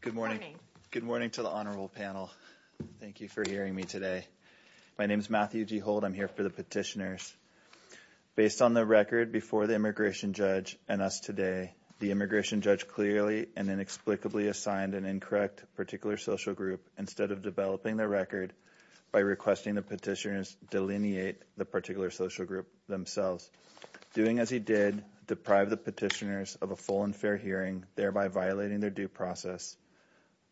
Good morning. Good morning to the honorable panel. Thank you for hearing me today. My name is Matthew G. Holt. I'm here for the petitioners. Based on the record before the immigration judge and us today, the immigration judge clearly and inexplicably assigned an incorrect particular social group instead of developing the record by requesting the petitioners delineate the particular social group themselves. Doing as he did, deprive the petitioners of a full and fair hearing, thereby violating their due process.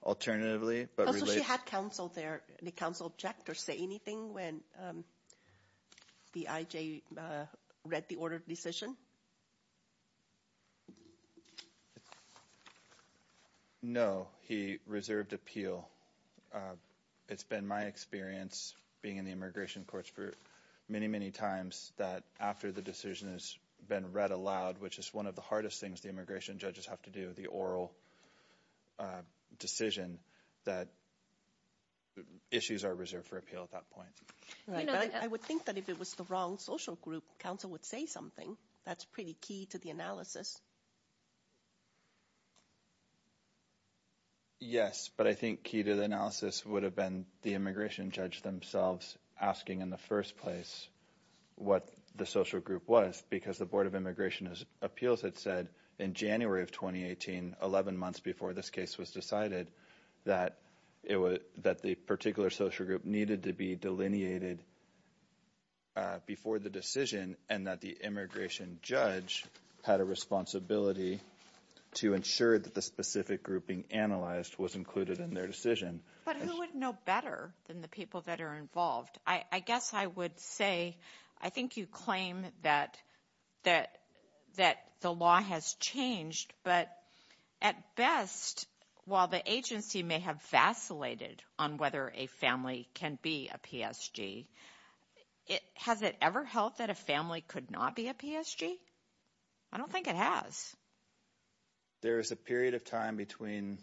Alternatively, but related... So she had counsel there. Did counsel object or say anything when the IJ read the order in the immigration courts for many, many times that after the decision has been read aloud, which is one of the hardest things the immigration judges have to do, the oral decision, that issues are reserved for appeal at that point. I would think that if it was the wrong social group, counsel would say something. That's pretty key to the analysis. Yes, but I think key to the analysis would have been the immigration judge themselves asking in the first place what the social group was because the Board of Immigration Appeals had said in January of 2018, 11 months before this case was decided, that the particular social group needed to be delineated before the decision and that the immigration judge had a responsibility to ensure that the specific grouping analyzed was included in their decision. But who would know better than the people that are involved? I guess I would say, I think you claim that the law has changed, but at best, while the agency may have vacillated on whether a family can be a PSG, has it ever held that a family could not be a PSG? I don't think it has. There is a period of time between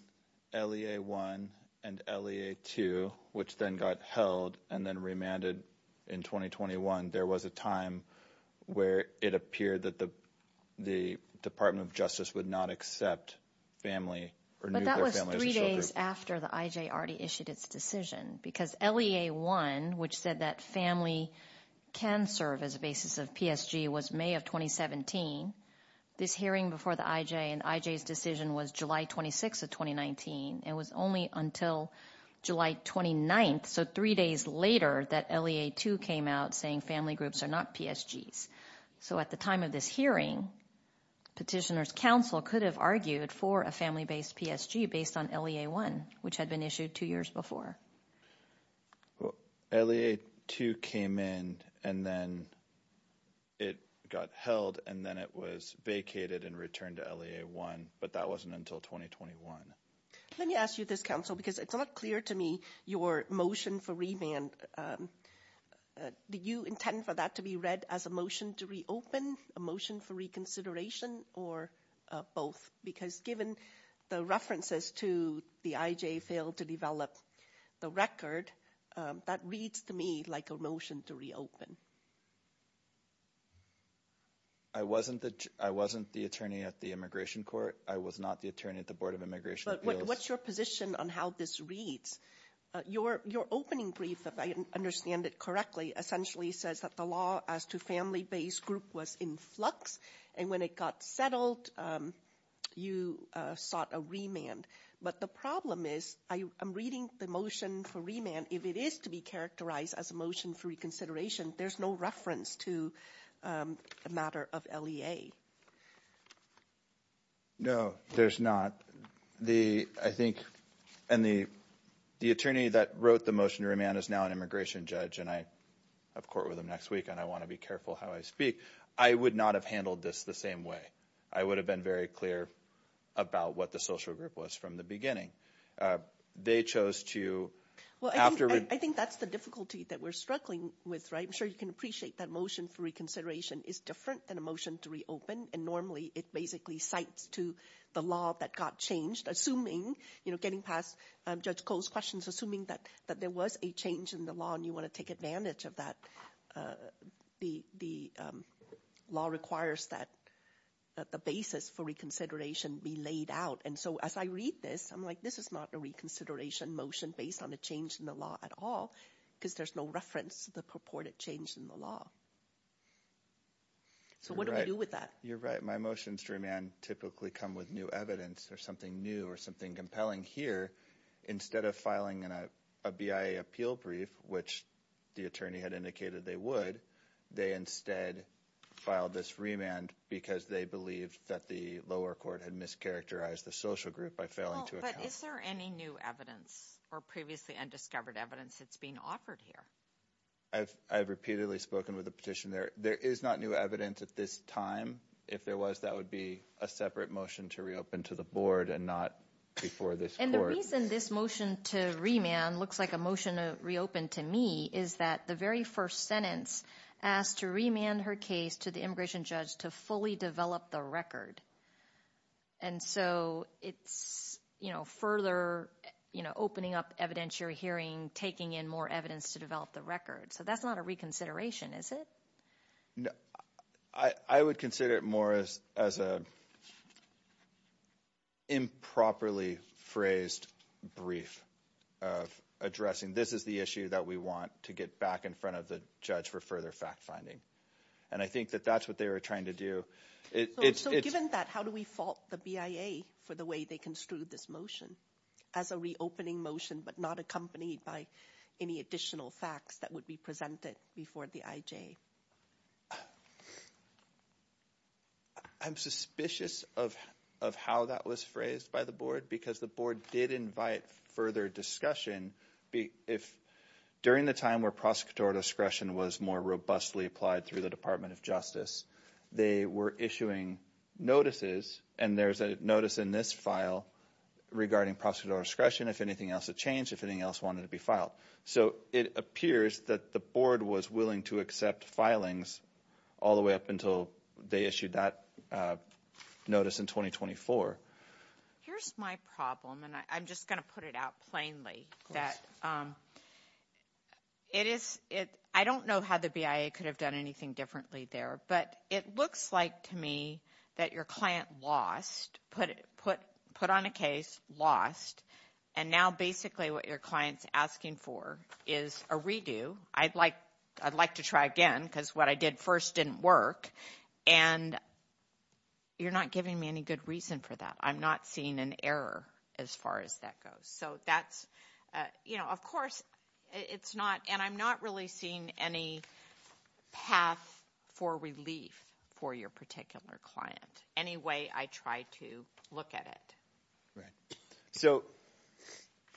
LEA 1 and LEA 2, which then got held and then remanded in 2021. There was a time where it appeared that the Department of Justice would not accept family or nuclear families. It was three days after the IJ already issued its decision because LEA 1, which said that family can serve as a basis of PSG, was May of 2017. This hearing before the IJ and IJ's decision was July 26 of 2019. It was only until July 29, so three days later, that LEA 2 came out saying family groups are not PSGs. So at the time of this hearing, petitioners council could have argued for a family-based PSG based on LEA 1, which had been issued two years before. Well, LEA 2 came in and then it got held and then it was vacated and returned to LEA 1, but that wasn't until 2021. Let me ask you this, counsel, because it's not clear to me your motion for remand. Do you intend for that to be read as a motion to reopen, a motion for reconsideration, or both? Because given the references to the IJ failed to develop the record, that reads to me like a motion to reopen. I wasn't the attorney at the Immigration Court. I was not the attorney at the Board of Immigration Appeals. But what's your position on how this reads? Your opening brief, if I understand it correctly, essentially says that the law as to family-based group was in flux, and when it got settled, you sought a remand. But the problem is, I'm reading the motion for remand, if it is to be characterized as a motion for reconsideration, there's no reference to a matter of LEA. No, there's not. I think, and the attorney that wrote the motion to remand is now an immigration judge, and I have court with him next week, and I want to be careful how I speak. I would not have handled this the same way. I would have been very clear about what the social group was from the beginning. They chose to, after- I think that's the difficulty that we're struggling with, right? I'm sure you can appreciate that motion for reconsideration is different than a motion to reopen, and normally it basically cites to the law that got changed, assuming, you know, getting past Judge Cole's questions, assuming that there was a change in the law, and you want to take advantage of that, the law requires that the basis for reconsideration be laid out. And so, as I read this, I'm like, this is not a reconsideration motion based on a change in the law at all, because there's no reference to the purported change in the law. So what do we do with that? You're right. My motions to remand typically come with new evidence, or something new, or something compelling. Here, instead of filing a BIA appeal brief, which the attorney had indicated they would, they instead filed this remand because they believed that the lower court had mischaracterized the social group by failing to account- But is there any new evidence, or previously undiscovered evidence that's being offered here? I've repeatedly spoken with the petitioner. There is not new evidence at this time. If there was, that would be a separate motion to reopen to the board, and not before this court. And the reason this motion to remand looks like a motion to reopen to me is that the very first sentence asked to remand her case to the immigration judge to fully develop the record. And so, it's further opening up evidentiary hearing, taking in more evidence to develop the record. So that's not a reconsideration, is it? No. I would consider it more as a improperly phrased brief of addressing, this is the issue that we want to get back in front of the judge for further fact-finding. And I think that that's what they were trying to do. So, given that, how do we fault the BIA for the way they construed this motion as a reopening motion, but not accompanied by any additional facts that would be presented before the IJ? I'm suspicious of how that was phrased by the board, because the board did invite further discussion. During the time where prosecutorial discretion was more robustly applied through the Department of Justice, they were issuing notices, and there's a notice in this file regarding prosecutorial discretion, if anything else had changed, if anything else wanted to be filed. So, it appears that the board was willing to accept filings all the way up until they issued that notice in 2024. Here's my problem, and I'm just going to put it out plainly. I don't know how the BIA could have done anything differently there, but it looks like to me that your client lost, put on a case, lost, and now basically what your client's asking for is a redo. I'd like to try again, because what I did first didn't work, and you're not giving me any good reason for that. I'm not seeing an error as far as that goes. So, that's, you know, of course, it's not, and I'm not really seeing any path for relief for your particular client. Anyway, I tried to look at it. So,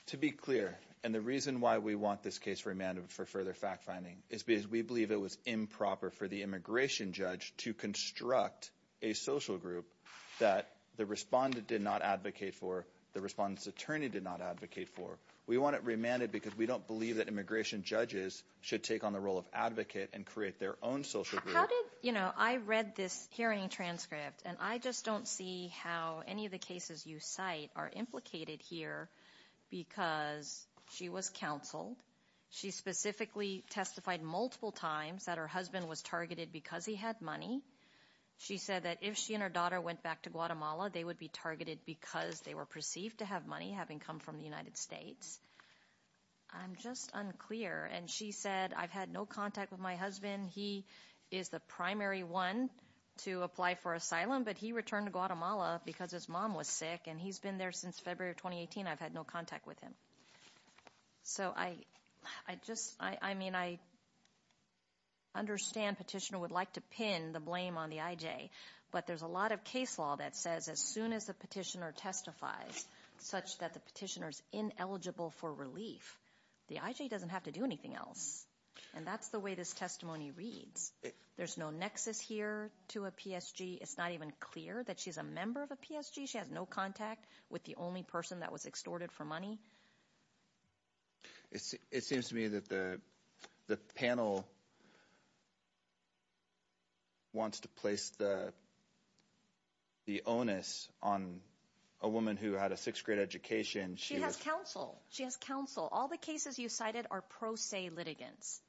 to be clear, and the reason why we want this case remanded for further fact-finding is because we believe it was improper for the immigration judge to construct a social group that the respondent did not advocate for, the respondent's attorney did not advocate for. We want it remanded because we don't believe that immigration judges should take on the role of advocate and create their own social group. How did, you know, I read this hearing transcript, and I just don't see how any of the cases you cite are implicated here because she was counseled. She specifically testified multiple times that her husband was targeted because he had money. She said that if she and her daughter went back to Guatemala, they would be targeted because they were perceived to have money, having come from the United States. I'm just unclear, and she said, I've had no contact with my husband. He is the primary one to apply for asylum, but he returned to Guatemala because his mom was sick, and he's been there since February of 2018. I've had no contact with him. So, I just, I mean, I understand petitioner would like to pin the blame on the IJ, but there's a lot of case law that says as soon as the petitioner testifies such that the petitioner's ineligible for relief, the IJ doesn't have to do anything else, and that's the way this testimony reads. There's no nexus here to a PSG. It's not even clear that she's a member of a PSG. She has no contact with the only person that was extorted for money. It seems to me that the panel wants to place the onus on a woman who had a sixth grade education. She has counsel. She has counsel. All the cases you cited are pro se litigants.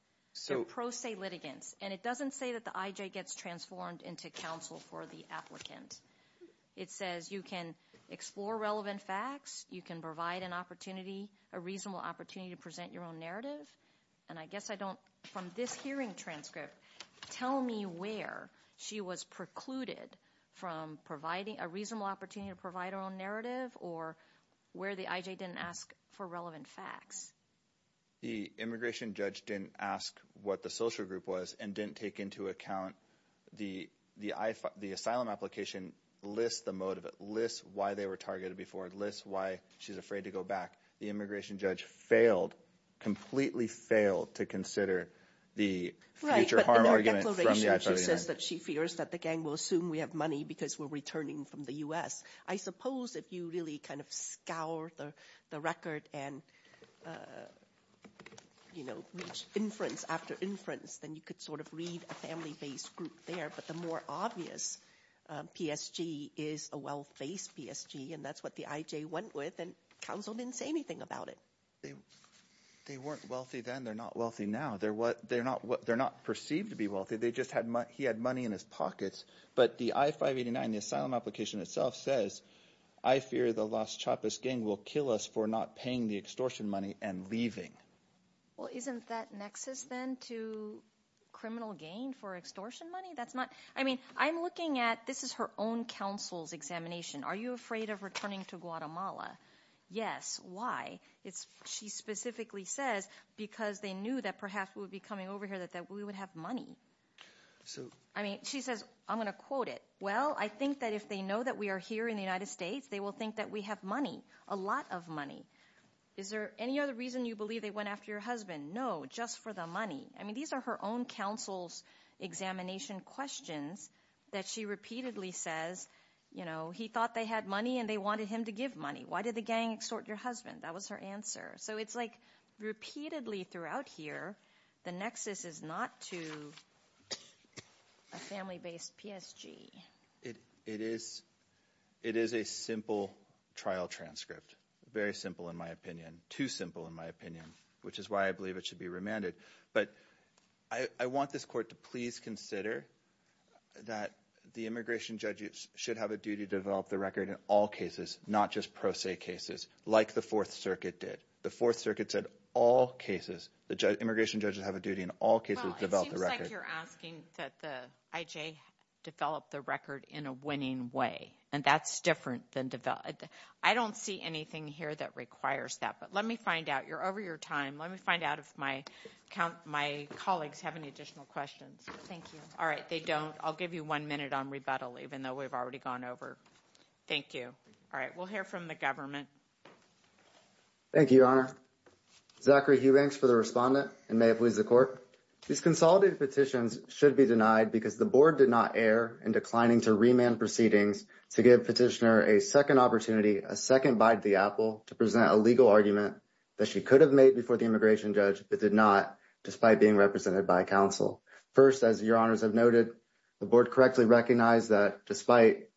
They're pro se litigants, and it doesn't say that the IJ gets transformed into counsel for the applicant. It says you can explore relevant facts. You can provide an opportunity, a reasonable opportunity to present your own narrative, and I guess I don't, from this hearing transcript, tell me where she was precluded from providing a reasonable opportunity to provide her own narrative or where the IJ didn't ask for relevant facts. The immigration judge didn't ask what the social group was and didn't take into account the asylum application lists the motive. It lists why they were targeted before. It lists why she's afraid to go back. The immigration judge failed, completely failed, to consider the future harm argument from the IJ. Right, but in her declaration she says that she fears that the gang will assume we have money because we're returning from the U.S. I suppose if you really scour the record and, you know, inference after inference, then you could sort of read a family based group there, but the more obvious PSG is a wealth-based PSG, and that's what the IJ went with, and counsel didn't say anything about it. They weren't wealthy then. They're not wealthy now. They're not perceived to be wealthy. They just had money, he had money in his pockets, but the I-589, the asylum application itself says, I fear the Las Chapas gang will kill us for not paying the extortion money and leaving. Well, isn't that nexus then to criminal gain for extortion money? That's not, I mean, I'm looking at, this is her own counsel's examination. Are you afraid of returning to Guatemala? Yes. Why? It's, she specifically says because they knew that perhaps we would be coming Well, I think that if they know that we are here in the United States, they will think that we have money, a lot of money. Is there any other reason you believe they went after your husband? No, just for the money. I mean, these are her own counsel's examination questions that she repeatedly says, you know, he thought they had money and they wanted him to give money. Why did the gang extort your husband? That was her answer. So it's like repeatedly throughout here, the nexus is not to a family-based PSG. It is a simple trial transcript, very simple in my opinion, too simple in my opinion, which is why I believe it should be remanded. But I want this court to please consider that the immigration judges should have a duty to develop the record in all cases, not just pro se cases, like the Fourth Circuit did. The Fourth Circuit said all cases, the immigration judges have a duty in all cases to develop the record. Well, it seems like you're asking that the IJ develop the record in a winning way, and that's different than developed. I don't see anything here that requires that, but let me find out. You're over your time. Let me find out if my colleagues have any additional questions. Thank you. All right. They don't. I'll give you one minute on rebuttal, even though we've already gone over. Thank you. All right. We'll hear from the government. Thank you, Your Honor. Zachary Hughbanks for the respondent and may it please the court. These consolidated petitions should be denied because the board did not err in declining to remand proceedings to give petitioner a second opportunity, a second bite at the apple to present a legal argument that she could have made before the immigration judge but did not, despite being represented by counsel. First, as Your Honors have noted, the board correctly recognized that despite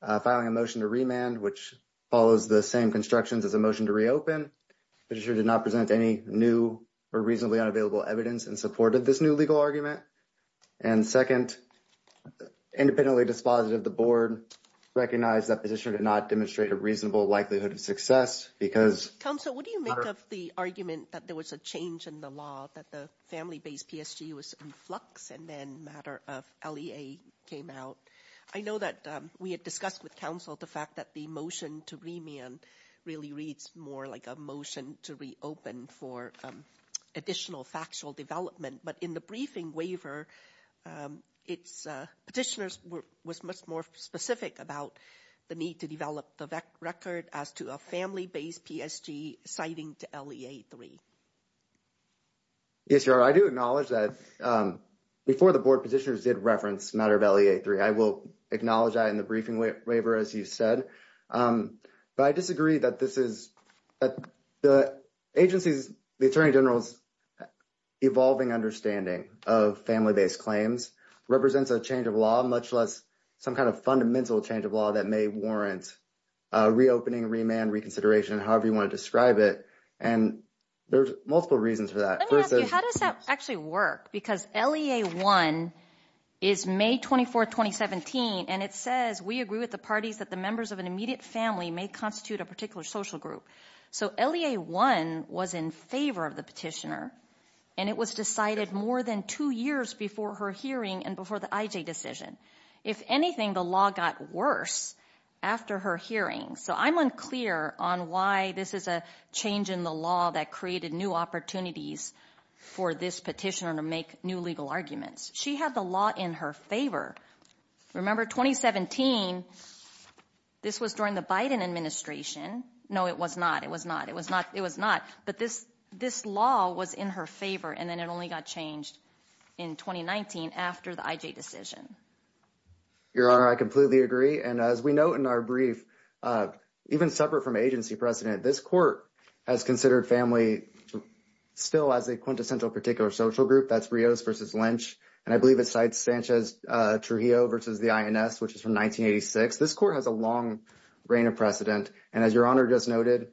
filing a motion to remand, which follows the same constructions as a motion to reopen, the petitioner did not present any new or reasonably unavailable evidence in support of this new legal argument. And second, independently dispositive, the board recognized that petitioner did not demonstrate a reasonable likelihood of success because. Counsel, what do you make of the argument that there was a change in the law that the family-based PSG was in flux and then a matter of LEA came out? I know that we had discussed with counsel the fact that the motion to remand really reads more like a motion to reopen for additional factual development, but in the briefing waiver, its petitioner was much more specific about the need to develop the record as to a family-based PSG citing to LEA-3. Yes, Your Honor, I do acknowledge that before the board petitioners did reference matter of LEA-3, I will acknowledge that in the briefing waiver, as you said. But I disagree that this is the agency's, the Attorney General's evolving understanding of family-based claims represents a change of law, much less some kind of fundamental change of law that may warrant reopening, remand, reconsideration, however you want to describe it. And there's multiple reasons for that. Let me ask you, how does that actually work? Because LEA-1 is May 24, 2017, and it says, we agree with the parties that the members of an immediate family may constitute a particular social group. So LEA-1 was in favor of the petitioner, and it was decided more than two years before her hearing and before the IJ decision. If anything, the law got worse after her hearing. So I'm unclear on why this is a change in the law that created new opportunities for this petitioner to make new legal arguments. She had the law in her favor. Remember, 2017, this was during the Biden administration. No, it was not. It was not. It was not. It was not. But this law was in her favor, and then it only got changed in 2019 after the IJ decision. Your Honor, I completely agree. And as we note in our brief, even separate from agency precedent, this court has considered family still as a quintessential particular social group. That's Rios versus Lynch. And I believe it cites Sanchez-Trujillo versus the INS, which is from 1986. This court has a long reign of precedent. And as Your Honor just noted,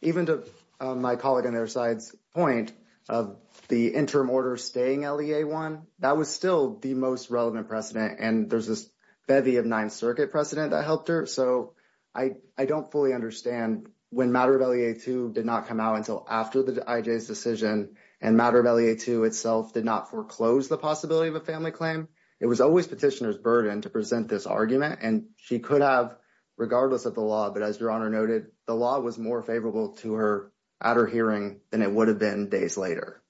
even to my colleague on their side's point of the interim order staying LEA-1, that was still the most relevant precedent. And there's this bevy of Ninth Circuit precedent that helped her. So I don't fully understand when matter of LEA-2 did not come out until after the IJ's decision and matter of LEA-2 itself did not foreclose the possibility of a family claim, it was always petitioner's burden to present this argument. And she could have, regardless of the law, but as Your Honor noted, the law was more favorable to her at her hearing than it would have been days later.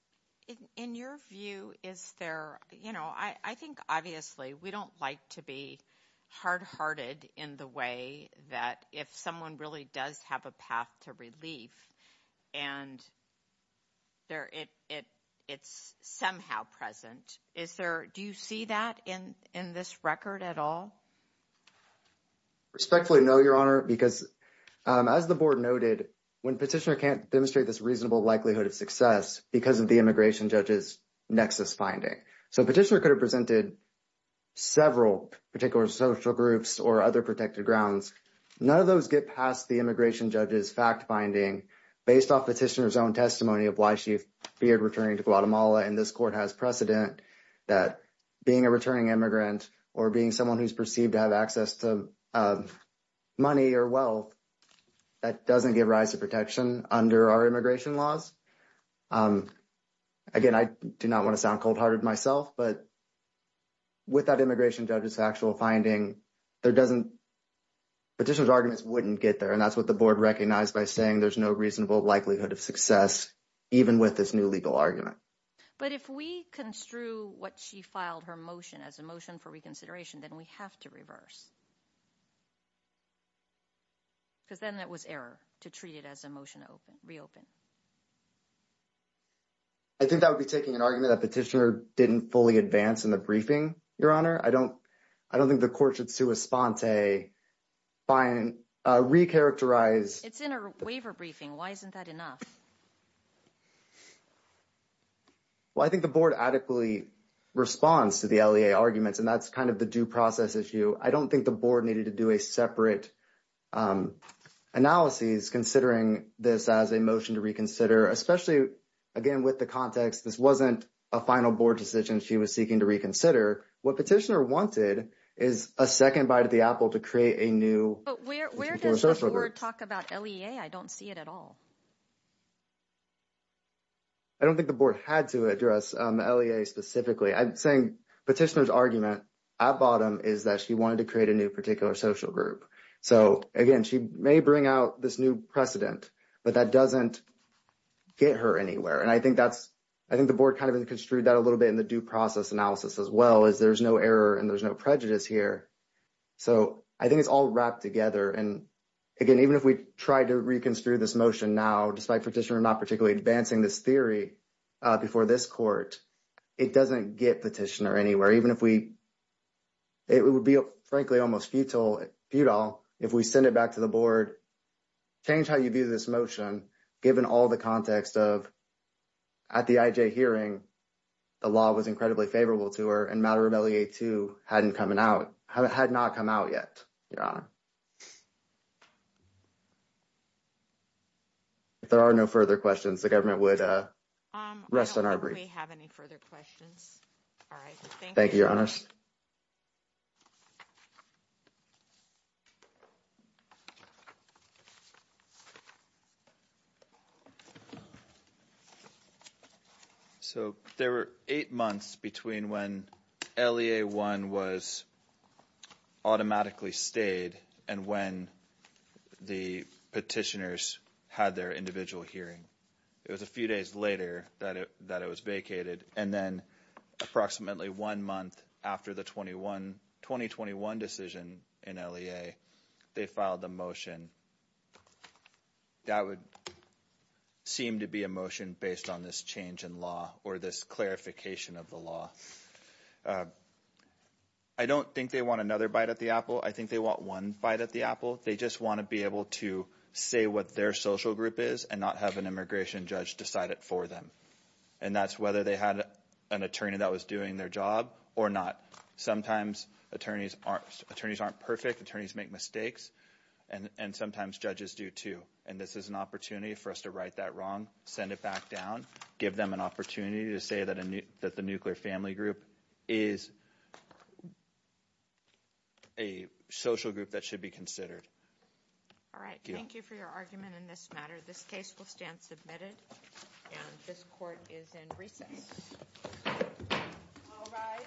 In your view, is there, you know, I think obviously we don't like to be hard-hearted in the way that if someone really does have a path to relief and they're, it's somehow present. Is there, do you see that in this record at all? Respectfully, no, Your Honor, because as the board noted, when petitioner can't demonstrate this reasonable likelihood of success because of the immigration judge's nexus finding. So petitioner could have presented several particular social groups or other protected grounds. None of those get past the immigration judge's fact-finding based off petitioner's own testimony of why she feared returning to Guatemala and this court has precedent that being a returning immigrant or being someone who's perceived to have access to money or wealth, that doesn't give rise to protection under our immigration laws. Again, I do not want to sound cold-hearted myself, but with that immigration judge's finding, there doesn't, petitioner's arguments wouldn't get there and that's what the board recognized by saying there's no reasonable likelihood of success even with this new legal argument. But if we construe what she filed her motion as a motion for reconsideration, then we have to reverse. Because then that was error to treat it as a motion to reopen. I think that would be taking an argument that petitioner didn't fully advance in the briefing, Your Honor. I don't, I don't think the court should sua sponte, find, re-characterize. It's in a waiver briefing. Why isn't that enough? Well, I think the board adequately responds to the LEA arguments and that's kind of the due process issue. I don't think the board needed to do a separate analyses considering this as a motion to reconsider, especially, again, with the context, this wasn't a final board decision she was seeking to reconsider. What petitioner wanted is a second bite at the apple to create a new. But where does the board talk about LEA? I don't see it at all. I don't think the board had to address LEA specifically. I'm saying petitioner's argument at bottom is that she wanted to create a new particular social group. So again, she may bring out this new precedent, but that doesn't get her anywhere. And I think that's, I think the board construed that a little bit in the due process analysis as well, is there's no error and there's no prejudice here. So I think it's all wrapped together. And again, even if we try to reconstitute this motion now, despite petitioner not particularly advancing this theory before this court, it doesn't get petitioner anywhere. Even if we, it would be, frankly, almost futile, if we send it back to the board, change how you view this motion, given all the context of at the IJ hearing, the law was incredibly favorable to her and matter of LEA too hadn't coming out, had not come out yet, Your Honor. If there are no further questions, the government would rest on our brief. I don't think we have any further questions. All right. Thank you. Thank you, Your Honors. So there were eight months between when LEA-1 was automatically stayed and when the petitioners had their individual hearing. It was a few days later that it was vacated. And then approximately one month after the 2021 decision in LEA, they filed the motion. That would seem to be a motion based on this change in law or this clarification of the law. I don't think they want another bite at the apple. I think they want one bite at the apple. They just want to be able to say what their social group is and not have an immigration judge decide it for them. And that's whether they had an attorney that was doing their job or not. Sometimes attorneys aren't perfect. Attorneys make mistakes and sometimes judges do too. And this is an opportunity for us to right that wrong, send it back down, give them an opportunity to say that the nuclear family group is a social group that should be considered. All right. Thank you for your time. This court is in recess. All rise.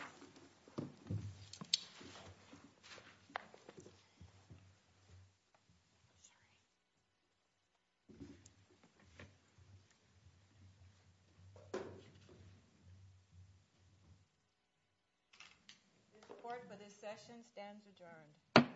This court for this session stands adjourned.